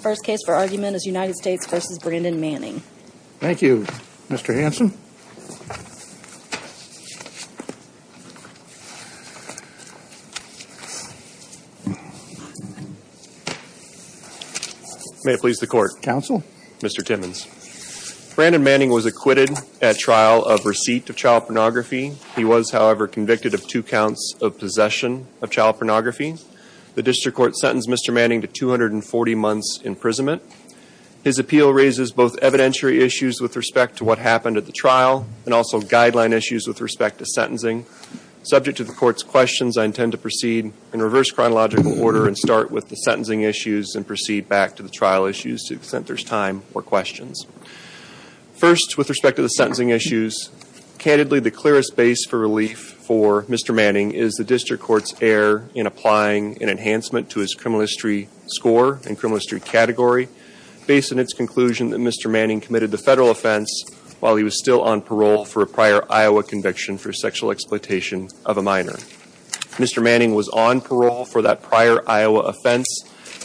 First case for argument is United States versus Brandon Manning. Thank you, Mr. Hanson May it please the court. Counsel. Mr. Timmons Brandon Manning was acquitted at trial of receipt of child pornography He was however convicted of two counts of possession of child pornography The district court sentenced Mr. Manning to 240 months imprisonment His appeal raises both evidentiary issues with respect to what happened at the trial and also guideline issues with respect to sentencing Subject to the court's questions I intend to proceed in reverse chronological order and start with the sentencing issues and proceed back to the trial issues to exempt There's time or questions first with respect to the sentencing issues Candidly the clearest base for relief for Mr. Manning is the district court's error in applying an enhancement to his criminal history score and criminal history category Based on its conclusion that Mr. Manning committed the federal offense while he was still on parole for a prior Iowa conviction for sexual exploitation of a minor Mr. Manning was on parole for that prior Iowa offense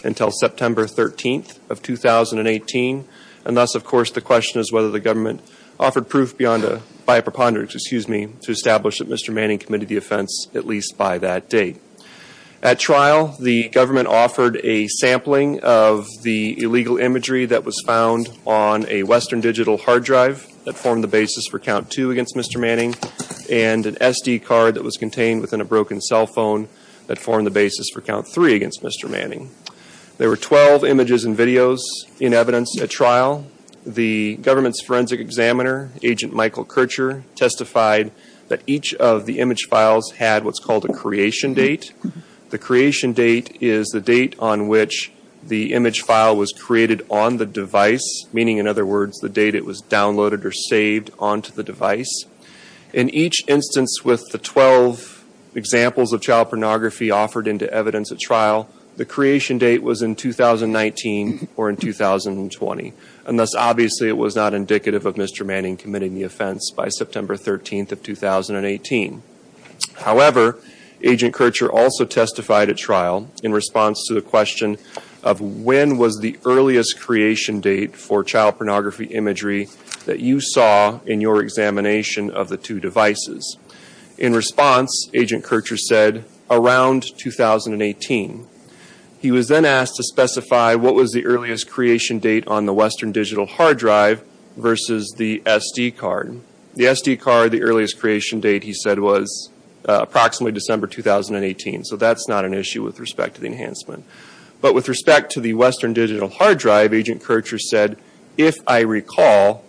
until September 13th of 2018 and thus, of course, the question is whether the government offered proof beyond a by a preponderance Excuse me to establish that. Mr. Manning committed the offense at least by that date at trial The government offered a sampling of the illegal imagery that was found on a Western digital hard drive That formed the basis for count two against. Mr Manning and an SD card that was contained within a broken cell phone that formed the basis for count three against. Mr Manning there were 12 images and videos in evidence at trial the government's forensic examiner agent Michael Kircher testified that each of the image files had what's called a creation date The creation date is the date on which the image file was created on the device Meaning in other words the date it was downloaded or saved onto the device in each instance with the 12 Examples of child pornography offered into evidence at trial the creation date was in 2019 or in 2020 and thus obviously it was not indicative of mr. Manning committing the offense by September 13th of 2018 however agent Kircher also testified at trial in response to the question of When was the earliest creation date for child pornography imagery that you saw in your examination of the two devices in? response agent Kircher said around 2018 He was then asked to specify. What was the earliest creation date on the Western digital hard drive? Versus the SD card the SD card the earliest creation date. He said was Approximately December 2018. So that's not an issue with respect to the enhancement But with respect to the Western digital hard drive agent Kircher said if I recall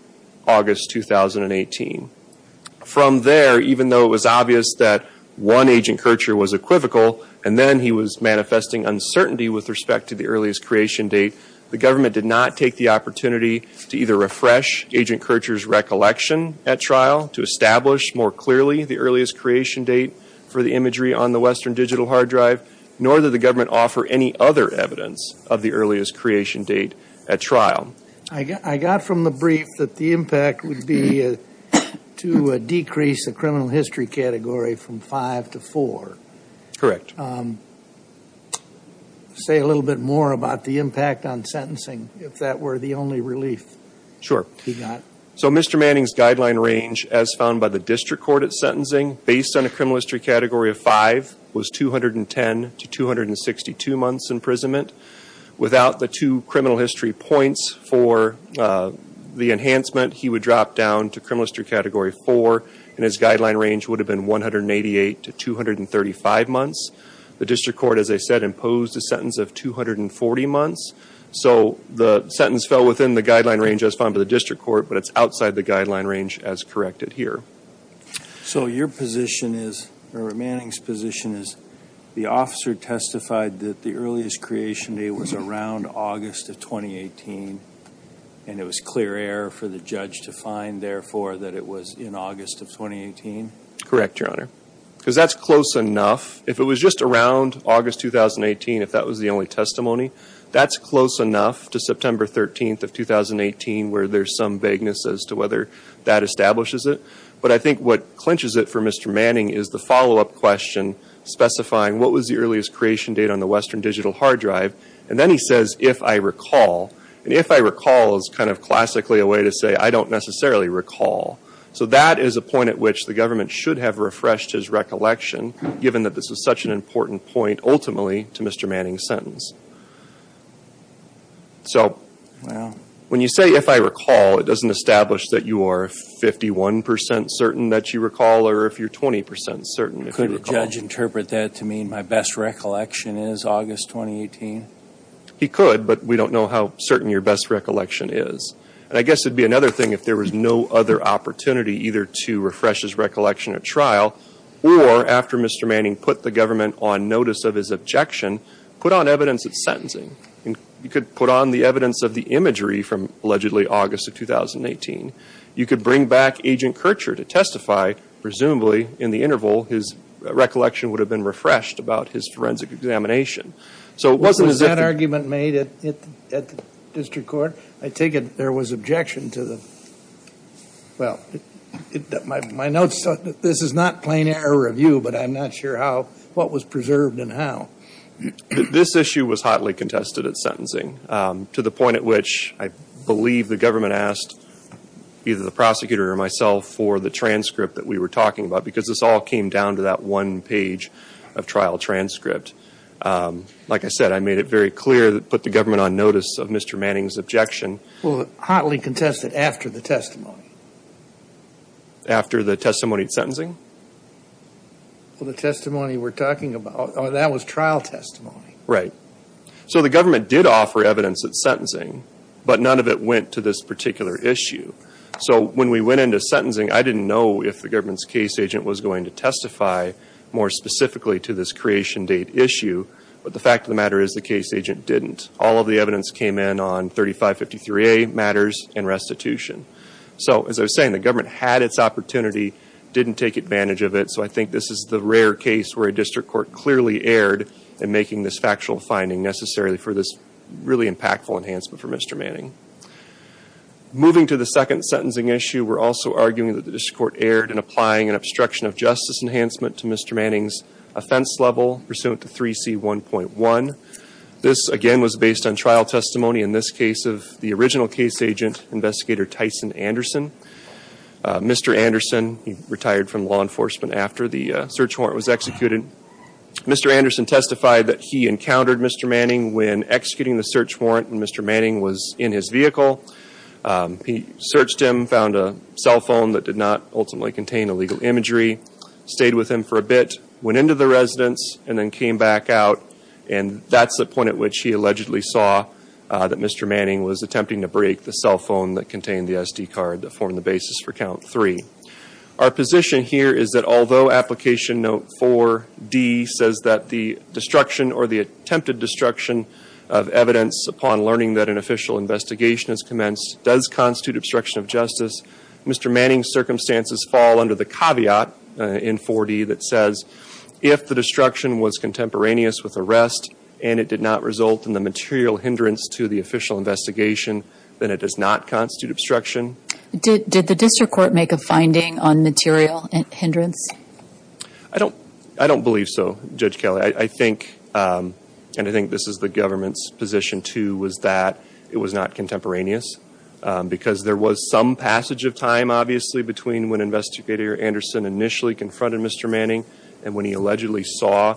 August 2018 From there even though it was obvious that one agent Kircher was equivocal and then he was manifesting Uncertainty with respect to the earliest creation date the government did not take the opportunity to either refresh agent Kircher's Recollection at trial to establish more clearly the earliest creation date for the imagery on the Western digital hard drive Nor did the government offer any other evidence of the earliest creation date at trial? I got from the brief that the impact would be To decrease the criminal history category from five to four correct Say a little bit more about the impact on sentencing if that were the only relief sure So mr Manning's guideline range as found by the district court at sentencing based on a criminal history category of five was 210 to 262 months imprisonment without the two criminal history points for The enhancement he would drop down to criminal history category four and his guideline range would have been 188 to 235 months the district court as I said imposed a sentence of 240 months So the sentence fell within the guideline range as found to the district court, but it's outside the guideline range as corrected here So your position is or a Manning's position is the officer testified that the earliest creation day was around? August of 2018 And it was clear error for the judge to find therefore that it was in August of 2018 Correct your honor because that's close enough if it was just around August 2018 if that was the only testimony That's close enough to September 13th of 2018 where there's some vagueness as to whether that establishes it But I think what clinches it for mr. Manning is the follow-up question Specifying what was the earliest creation date on the Western digital hard drive? And then he says if I recall and if I recall is kind of classically a way to say I don't necessarily recall so that is a point at which the government should have refreshed his Recollection given that this was such an important point ultimately to mr. Manning sentence So When you say if I recall it doesn't establish that you are 51% certain that you recall or if you're 20% certain could judge interpret that to mean my best Recollection is August 2018 He could but we don't know how certain your best recollection is and I guess it'd be another thing if there was no other Opportunity either to refresh his recollection at trial or after mr. Manning put the government on notice of his objection put on evidence of sentencing and you could put on the evidence of the imagery from Allegedly August of 2018 you could bring back agent Kircher to testify Presumably in the interval his Recollection would have been refreshed about his forensic examination. So what was that argument made it at the district court? I take it there was objection to them well My notes, this is not plain error of you, but I'm not sure how what was preserved and how This issue was hotly contested at sentencing to the point at which I believe the government asked Either the prosecutor or myself for the transcript that we were talking about because this all came down to that one page of trial transcript Like I said, I made it very clear that put the government on notice of mr. Manning's objection. Well hotly contested after the testimony After the testimony at sentencing Well the testimony we're talking about that was trial testimony, right? So the government did offer evidence at sentencing, but none of it went to this particular issue So when we went into sentencing, I didn't know if the government's case agent was going to testify More specifically to this creation date issue But the fact of the matter is the case agent didn't all of the evidence came in on 35 53 a matters and restitution So as I was saying the government had its opportunity didn't take advantage of it So I think this is the rare case where a district court clearly aired and making this factual finding necessarily for this Really impactful enhancement for mr. Manning Moving to the second sentencing issue We're also arguing that the district court aired and applying an obstruction of justice enhancement to mr. Manning's offense level pursuant to 3c 1.1 this again was based on trial testimony in this case of the original case agent investigator Tyson Anderson Mr. Anderson he retired from law enforcement after the search warrant was executed Mr. Anderson testified that he encountered mr. Manning when executing the search warrant and mr. Manning was in his vehicle He searched him found a cell phone that did not ultimately contain illegal imagery Stayed with him for a bit went into the residence and then came back out and that's the point at which he allegedly saw That mr. Manning was attempting to break the cell phone that contained the SD card that formed the basis for count three our position here is that although application note 4d says that the destruction or the attempted destruction of Evidence upon learning that an official investigation has commenced does constitute obstruction of justice Mr. Manning circumstances fall under the caveat in 4d that says if the destruction was contemporaneous with arrest And it did not result in the material hindrance to the official investigation Then it does not constitute obstruction. Did the district court make a finding on material and hindrance? I Don't I don't believe so judge Kelly. I think And I think this is the government's position to was that it was not contemporaneous Because there was some passage of time obviously between when investigator Anderson initially confronted. Mr. Manning and when he allegedly saw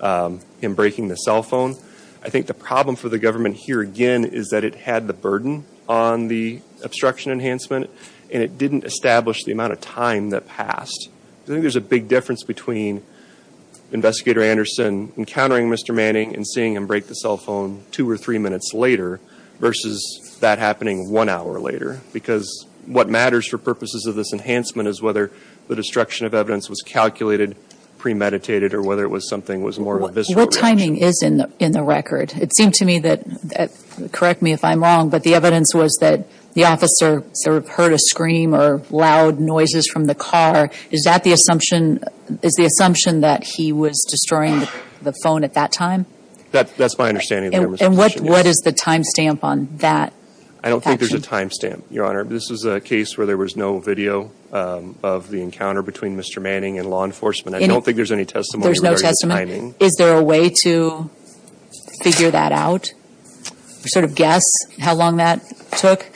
Him breaking the cell phone I think the problem for the government here again is that it had the burden on the Obstruction enhancement and it didn't establish the amount of time that passed. I think there's a big difference between Investigator Anderson encountering. Mr. Manning and seeing him break the cell phone two or three minutes later Versus that happening one hour later because what matters for purposes of this enhancement is whether the destruction of evidence was calculated Premeditated or whether it was something was more visible timing is in in the record. It seemed to me that Correct me if I'm wrong But the evidence was that the officer sort of heard a scream or loud noises from the car Is that the assumption is the assumption that he was destroying the phone at that time? That that's my understanding and what what is the timestamp on that? I don't think there's a timestamp your honor This is a case where there was no video Of the encounter between mr. Manning and law enforcement. I don't think there's any testimony. There's no testimony. Is there a way to Figure that out Sort of guess how long that took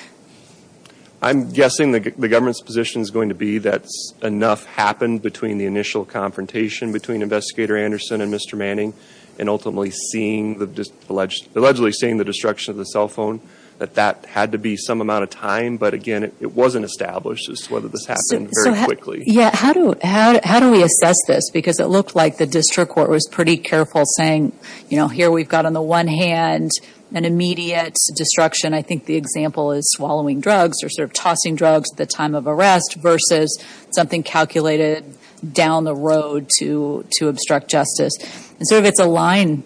I'm guessing the government's position is going to be that's enough happened between the initial confrontation between investigator Anderson and mr Manning and ultimately seeing the just alleged allegedly seeing the destruction of the cell phone that that had to be some amount of time But again, it wasn't established as to whether this happened very quickly Yeah, how do how do we assess this because it looked like the district court was pretty careful saying, you know here We've got on the one hand an immediate destruction I think the example is swallowing drugs or sort of tossing drugs at the time of arrest versus something calculated Down the road to to obstruct justice and sort of it's a line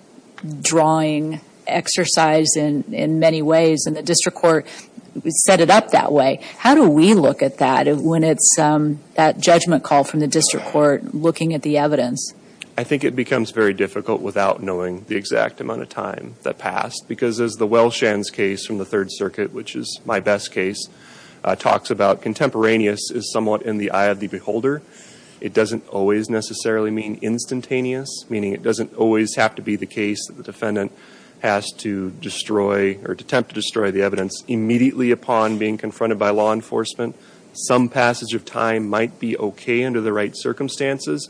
drawing Exercise in in many ways and the district court Set it up that way. How do we look at that when it's that judgment call from the district court looking at the evidence? I think it becomes very difficult without knowing the exact amount of time that passed because as the well shans case from the Third Circuit Which is my best case? Talks about contemporaneous is somewhat in the eye of the beholder It doesn't always necessarily mean instantaneous meaning It doesn't always have to be the case that the defendant has to destroy or to attempt to destroy the evidence Immediately upon being confronted by law enforcement Some passage of time might be okay under the right circumstances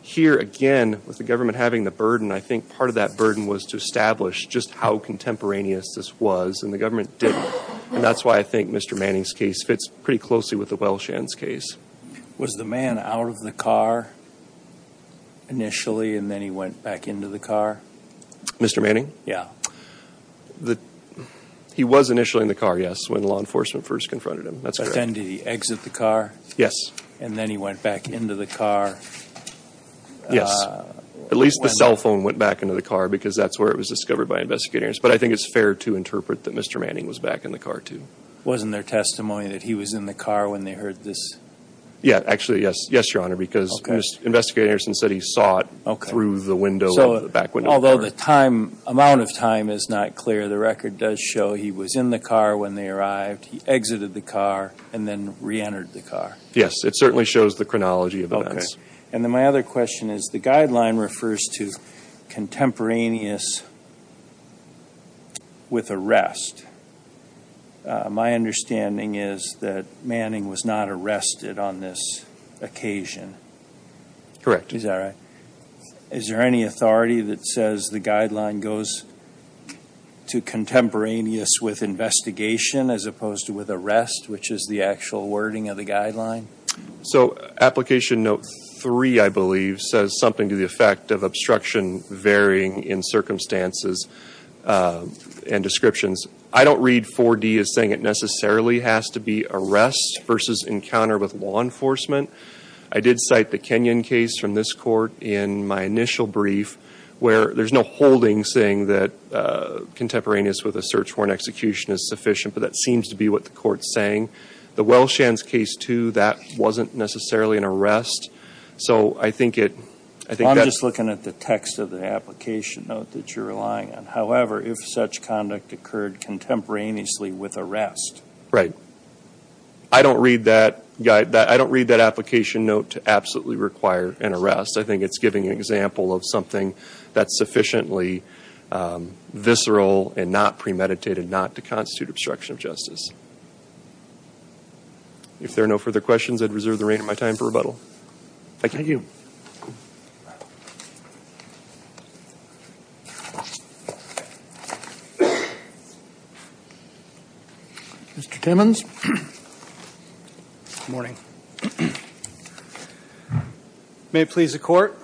Here again with the government having the burden. I think part of that burden was to establish just how contemporaneous this was and the government did And that's why I think mr. Manning's case fits pretty closely with the well shans case was the man out of the car Initially and then he went back into the car. Mr. Manning. Yeah the He was initially in the car. Yes when law enforcement first confronted him. That's attendee exit the car Yes, and then he went back into the car Yes, at least the cell phone went back into the car because that's where it was discovered by investigators But I think it's fair to interpret that. Mr. Manning was back in the car, too Wasn't there testimony that he was in the car when they heard this? Yeah, actually, yes, yes your honor because investigators and said he saw it okay through the window So back when although the time amount of time is not clear The record does show he was in the car when they arrived. He exited the car and then re-entered the car Yes, it certainly shows the chronology of events. And then my other question is the guideline refers to contemporaneous With arrest My understanding is that Manning was not arrested on this occasion Correct. He's all right. Is there any authority that says the guideline goes? to contemporaneous with Investigation as opposed to with arrest which is the actual wording of the guideline So application note 3 I believe says something to the effect of obstruction varying in circumstances And descriptions, I don't read 4d is saying it necessarily has to be arrest versus encounter with law enforcement I did cite the Kenyan case from this court in my initial brief where there's no holding saying that Contemporaneous with a search warrant execution is sufficient But that seems to be what the court's saying the Welsh and case to that wasn't necessarily an arrest So, I think it I think I'm just looking at the text of the application note that you're relying on however if such conduct occurred contemporaneously with arrest right I Don't read that guy that I don't read that application note to absolutely require an arrest I think it's giving an example of something that's sufficiently Visceral and not premeditated not to constitute obstruction of justice If there are no further questions, I'd reserve the reign of my time for rebuttal Thank you Mr. Timmons Morning May it please the court.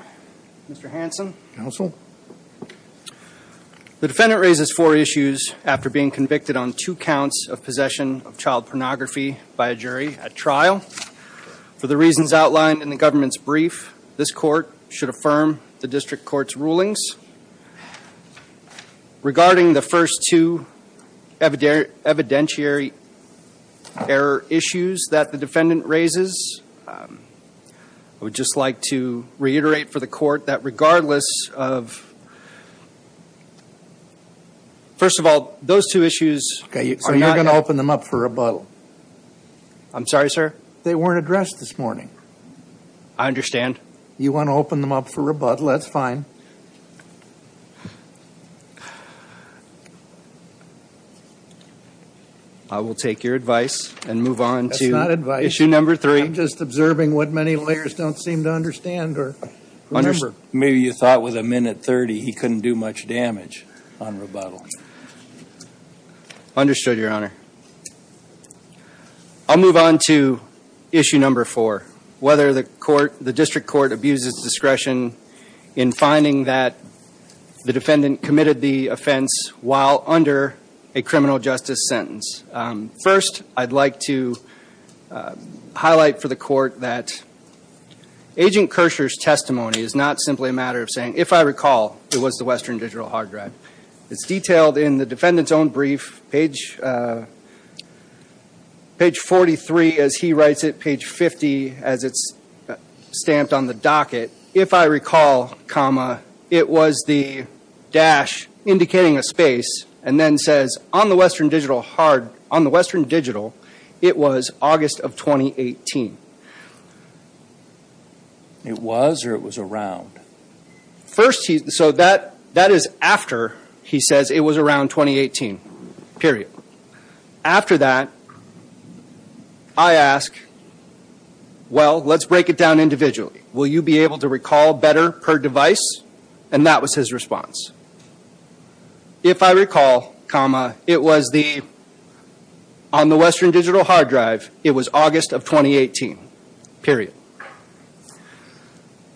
Mr. Hanson counsel The defendant raises four issues after being convicted on two counts of possession of child pornography by a jury at trial For the reasons outlined in the government's brief this court should affirm the district courts rulings Regarding the first two evidentiary error issues that the defendant raises I would just like to reiterate for the court that regardless of First of all those two issues. Okay, so you're gonna open them up for a bottle. I'm sorry, sir They weren't addressed this morning. I Understand you want to open them up for rebuttal? That's fine I will take your advice and move on to not advice you number three I'm just observing what many layers don't seem to understand or Remember, maybe you thought with a minute 30. He couldn't do much damage on rebuttal Understood your honor I'll move on to issue number four whether the court the district court abuses discretion in finding that the defendant committed the offense while under a criminal justice sentence first, I'd like to Highlight for the court that Agent Kershaw's testimony is not simply a matter of saying if I recall it was the Western digital hard drive It's detailed in the defendants own brief page Page 43 as he writes it page 50 as it's Stamped on the docket if I recall comma it was the dash Indicating a space and then says on the Western digital hard on the Western digital. It was August of 2018 It was or it was around First he so that that is after he says it was around 2018 period after that I Asked Well, let's break it down individually. Will you be able to recall better per device and that was his response? If I recall comma it was the on the Western digital hard drive. It was August of 2018 period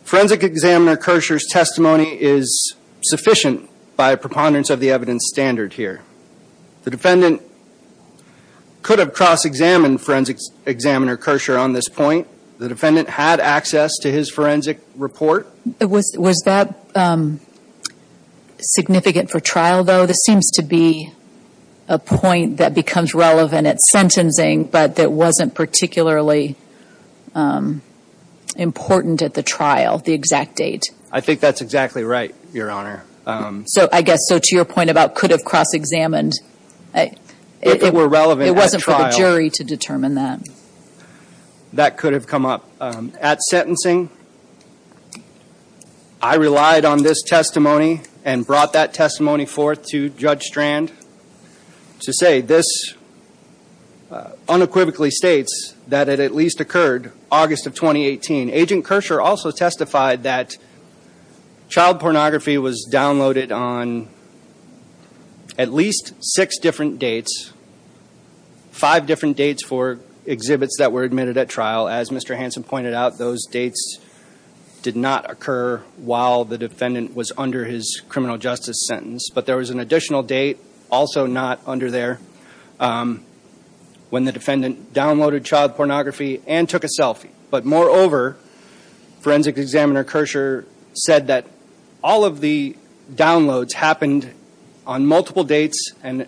Forensic examiner Kershaw's testimony is Sufficient by preponderance of the evidence standard here the defendant Could have cross-examined forensics examiner Kershaw on this point. The defendant had access to his forensic report. It was was that Significant for trial though, this seems to be a point that becomes relevant at sentencing, but that wasn't particularly Important at the trial the exact date I think that's exactly right your honor So I guess so to your point about could have cross-examined It were relevant wasn't for the jury to determine that That could have come up at sentencing. I Relied on this testimony and brought that testimony forth to judge strand to say this Unequivocally states that it at least occurred August of 2018 agent Kershaw also testified that Child pornography was downloaded on At least six different dates Five different dates for exhibits that were admitted at trial as mr. Hanson pointed out those dates Did not occur while the defendant was under his criminal justice sentence, but there was an additional date also not under there When the defendant downloaded child pornography and took a selfie, but moreover Forensic examiner Kershaw said that all of the downloads happened on multiple dates and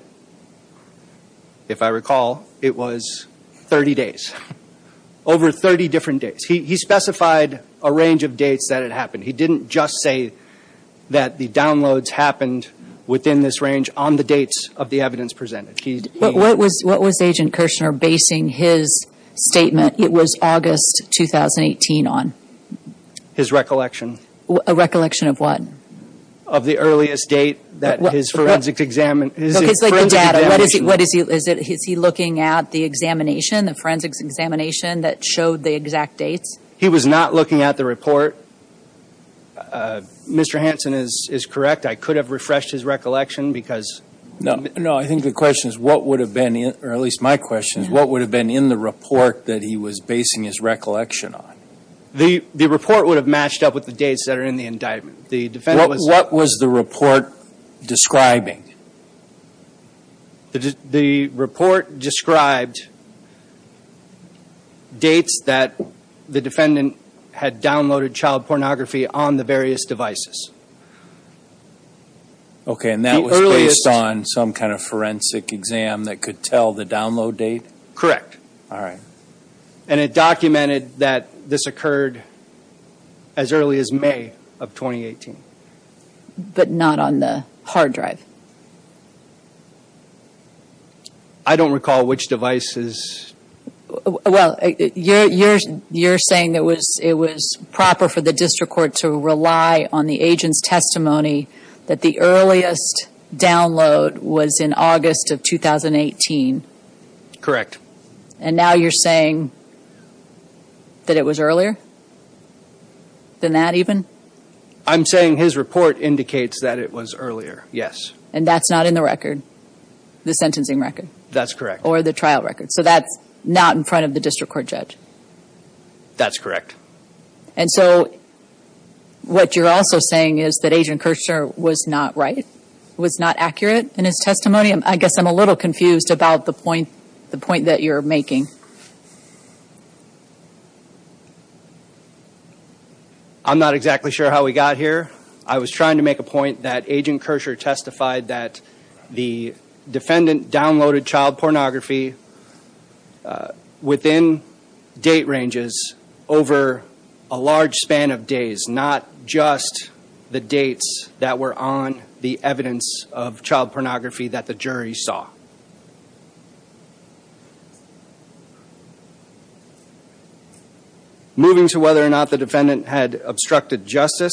If I recall it was 30 days Over 30 different days. He specified a range of dates that had happened. He didn't just say That the downloads happened within this range on the dates of the evidence presented He what was what was agent Kershaw basing his statement? It was August 2018 on His recollection a recollection of one of the earliest date that his forensics examined What is he is it? Is he looking at the examination the forensics examination that showed the exact dates? He was not looking at the report Mr. Hanson is is correct. I could have refreshed his recollection because no no I think the question is what would have been in or at least my question is what would have been in the report that he? Was basing his recollection on the the report would have matched up with the dates that are in the indictment the defendant What was the report? describing The the report described Dates that the defendant had downloaded child pornography on the various devices Okay, and that was based on some kind of forensic exam that could tell the download date correct, all right And it documented that this occurred as early as May of 2018 But not on the hard drive. I Don't recall which devices Well, you're you're saying that was it was proper for the district court to rely on the agent's testimony that the earliest Download was in August of 2018 Correct and now you're saying That it was earlier Than that even I'm saying his report indicates that it was earlier. Yes, and that's not in the record The sentencing record that's correct or the trial record. So that's not in front of the district court judge That's correct. And so What you're also saying is that agent Kirschner was not right was not accurate in his testimony I guess I'm a little confused about the point the point that you're making I'm not exactly sure how we got here. I was trying to make a point that agent Kirschner testified that the defendant downloaded child pornography Within date ranges over a large span of days not just The dates that were on the evidence of child pornography that the jury saw Moving to whether or not the defendant had obstructed justice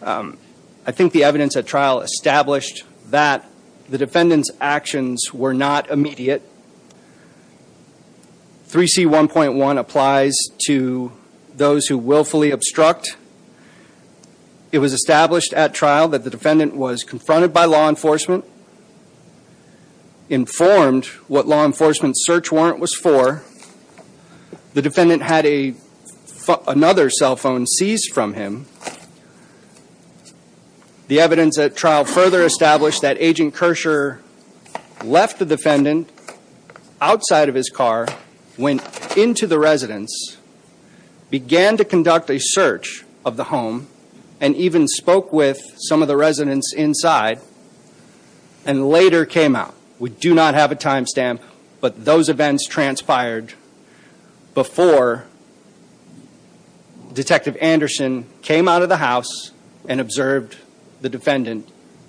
I think the evidence at trial established that the defendants actions were not immediate 3c 1.1 applies to those who willfully obstruct It was established at trial that the defendant was confronted by law enforcement Informed what law enforcement search warrant was for the defendant had a another cell phone seized from him The evidence at trial further established that agent Kirschner left the defendant outside of his car went into the residence Began to conduct a search of the home and even spoke with some of the residents inside and Later came out. We do not have a timestamp, but those events transpired before Detective Anderson came out of the house and observed the defendant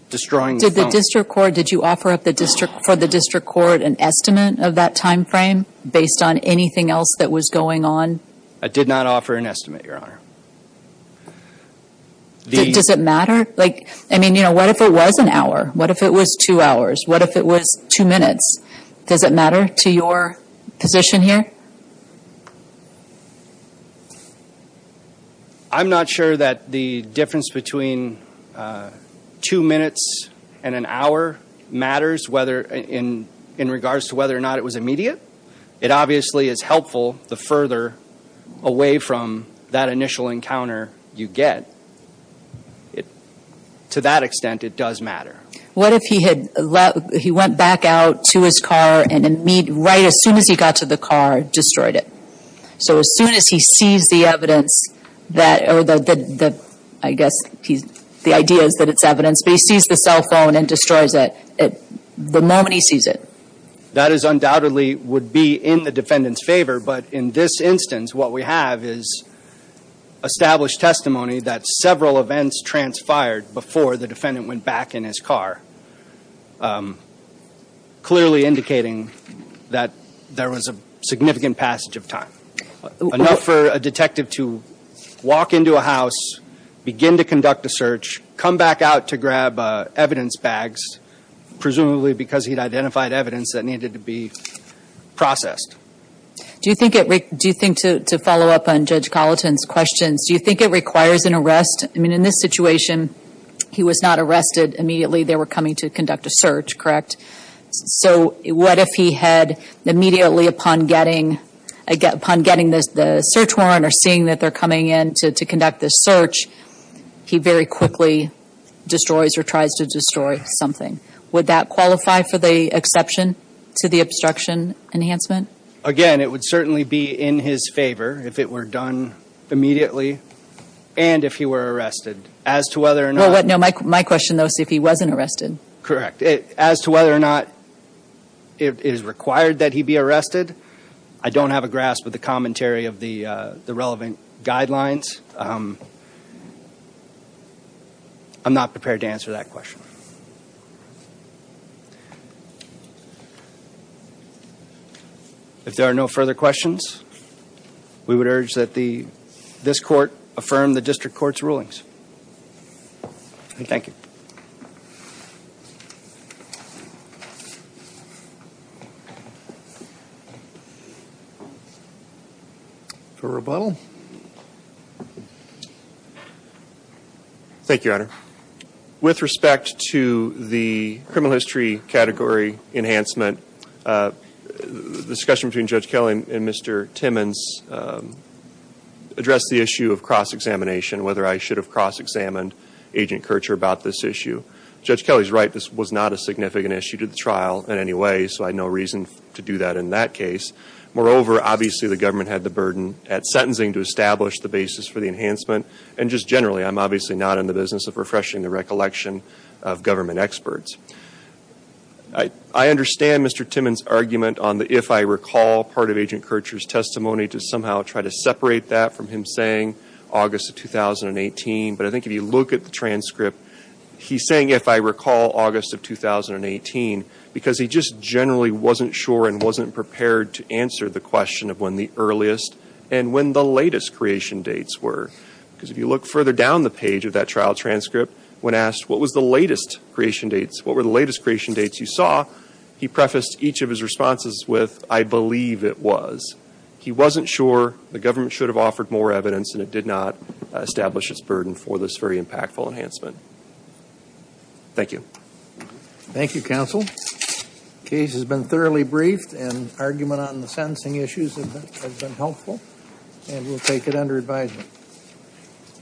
Destroying the district court. Did you offer up the district for the district court an estimate of that time frame based on anything else? That was going on. I did not offer an estimate your honor The does it matter like I mean, you know, what if it was an hour what if it was two hours? What if it was two minutes? Does it matter to your position here? I'm not sure that the difference between Two minutes and an hour Matters whether in in regards to whether or not it was immediate. It obviously is helpful the further away from that initial encounter you get it To that extent it does matter What if he had let he went back out to his car and then meet right as soon as he got to the car? Destroyed it. So as soon as he sees the evidence that I guess he's the idea is that it's evidence. He sees the cell phone and destroys it at the moment. He sees it That is undoubtedly would be in the defendants favor. But in this instance what we have is Established testimony that several events transpired before the defendant went back in his car Clearly indicating that there was a significant passage of time Enough for a detective to walk into a house Begin to conduct a search come back out to grab evidence bags Presumably because he'd identified evidence that needed to be processed Do you think it Rick do you think to follow up on judge Colleton's questions? Do you think it requires an arrest? I mean in this situation He was not arrested immediately. They were coming to conduct a search, correct? So what if he had Immediately upon getting I get upon getting this the search warrant or seeing that they're coming in to conduct this search He very quickly Destroys or tries to destroy something would that qualify for the exception to the obstruction enhancement again? It would certainly be in his favor if it were done Immediately, and if he were arrested as to whether or not what no Mike my question though If he wasn't arrested correct as to whether or not It is required that he be arrested. I don't have a grasp with the commentary of the the relevant guidelines I'm not prepared to answer that question If there are no further questions we would urge that the this court affirm the district courts rulings Thank you For rebuttal Thank You Honor with respect to the criminal history category enhancement Discussion between judge Kelly and mr. Timmons Address the issue of cross-examination whether I should have cross-examined Agent Kircher about this issue judge Kelly's right. This was not a significant issue to the trial in any way So I had no reason to do that in that case Moreover, obviously the government had the burden at sentencing to establish the basis for the enhancement and just generally I'm obviously not in the business of refreshing the recollection of government experts. I Try to separate that from him saying August of 2018, but I think if you look at the transcript he's saying if I recall August of 2018 because he just generally wasn't sure and wasn't prepared to answer the question of when the earliest and when the latest Creation dates were because if you look further down the page of that trial transcript when asked what was the latest creation dates? What were the latest creation dates you saw he prefaced each of his responses with I believe it was He wasn't sure the government should have offered more evidence and it did not establish its burden for this very impactful enhancement Thank you Thank You counsel Case has been thoroughly briefed and argument on the sentencing issues have been helpful and we'll take it under advisement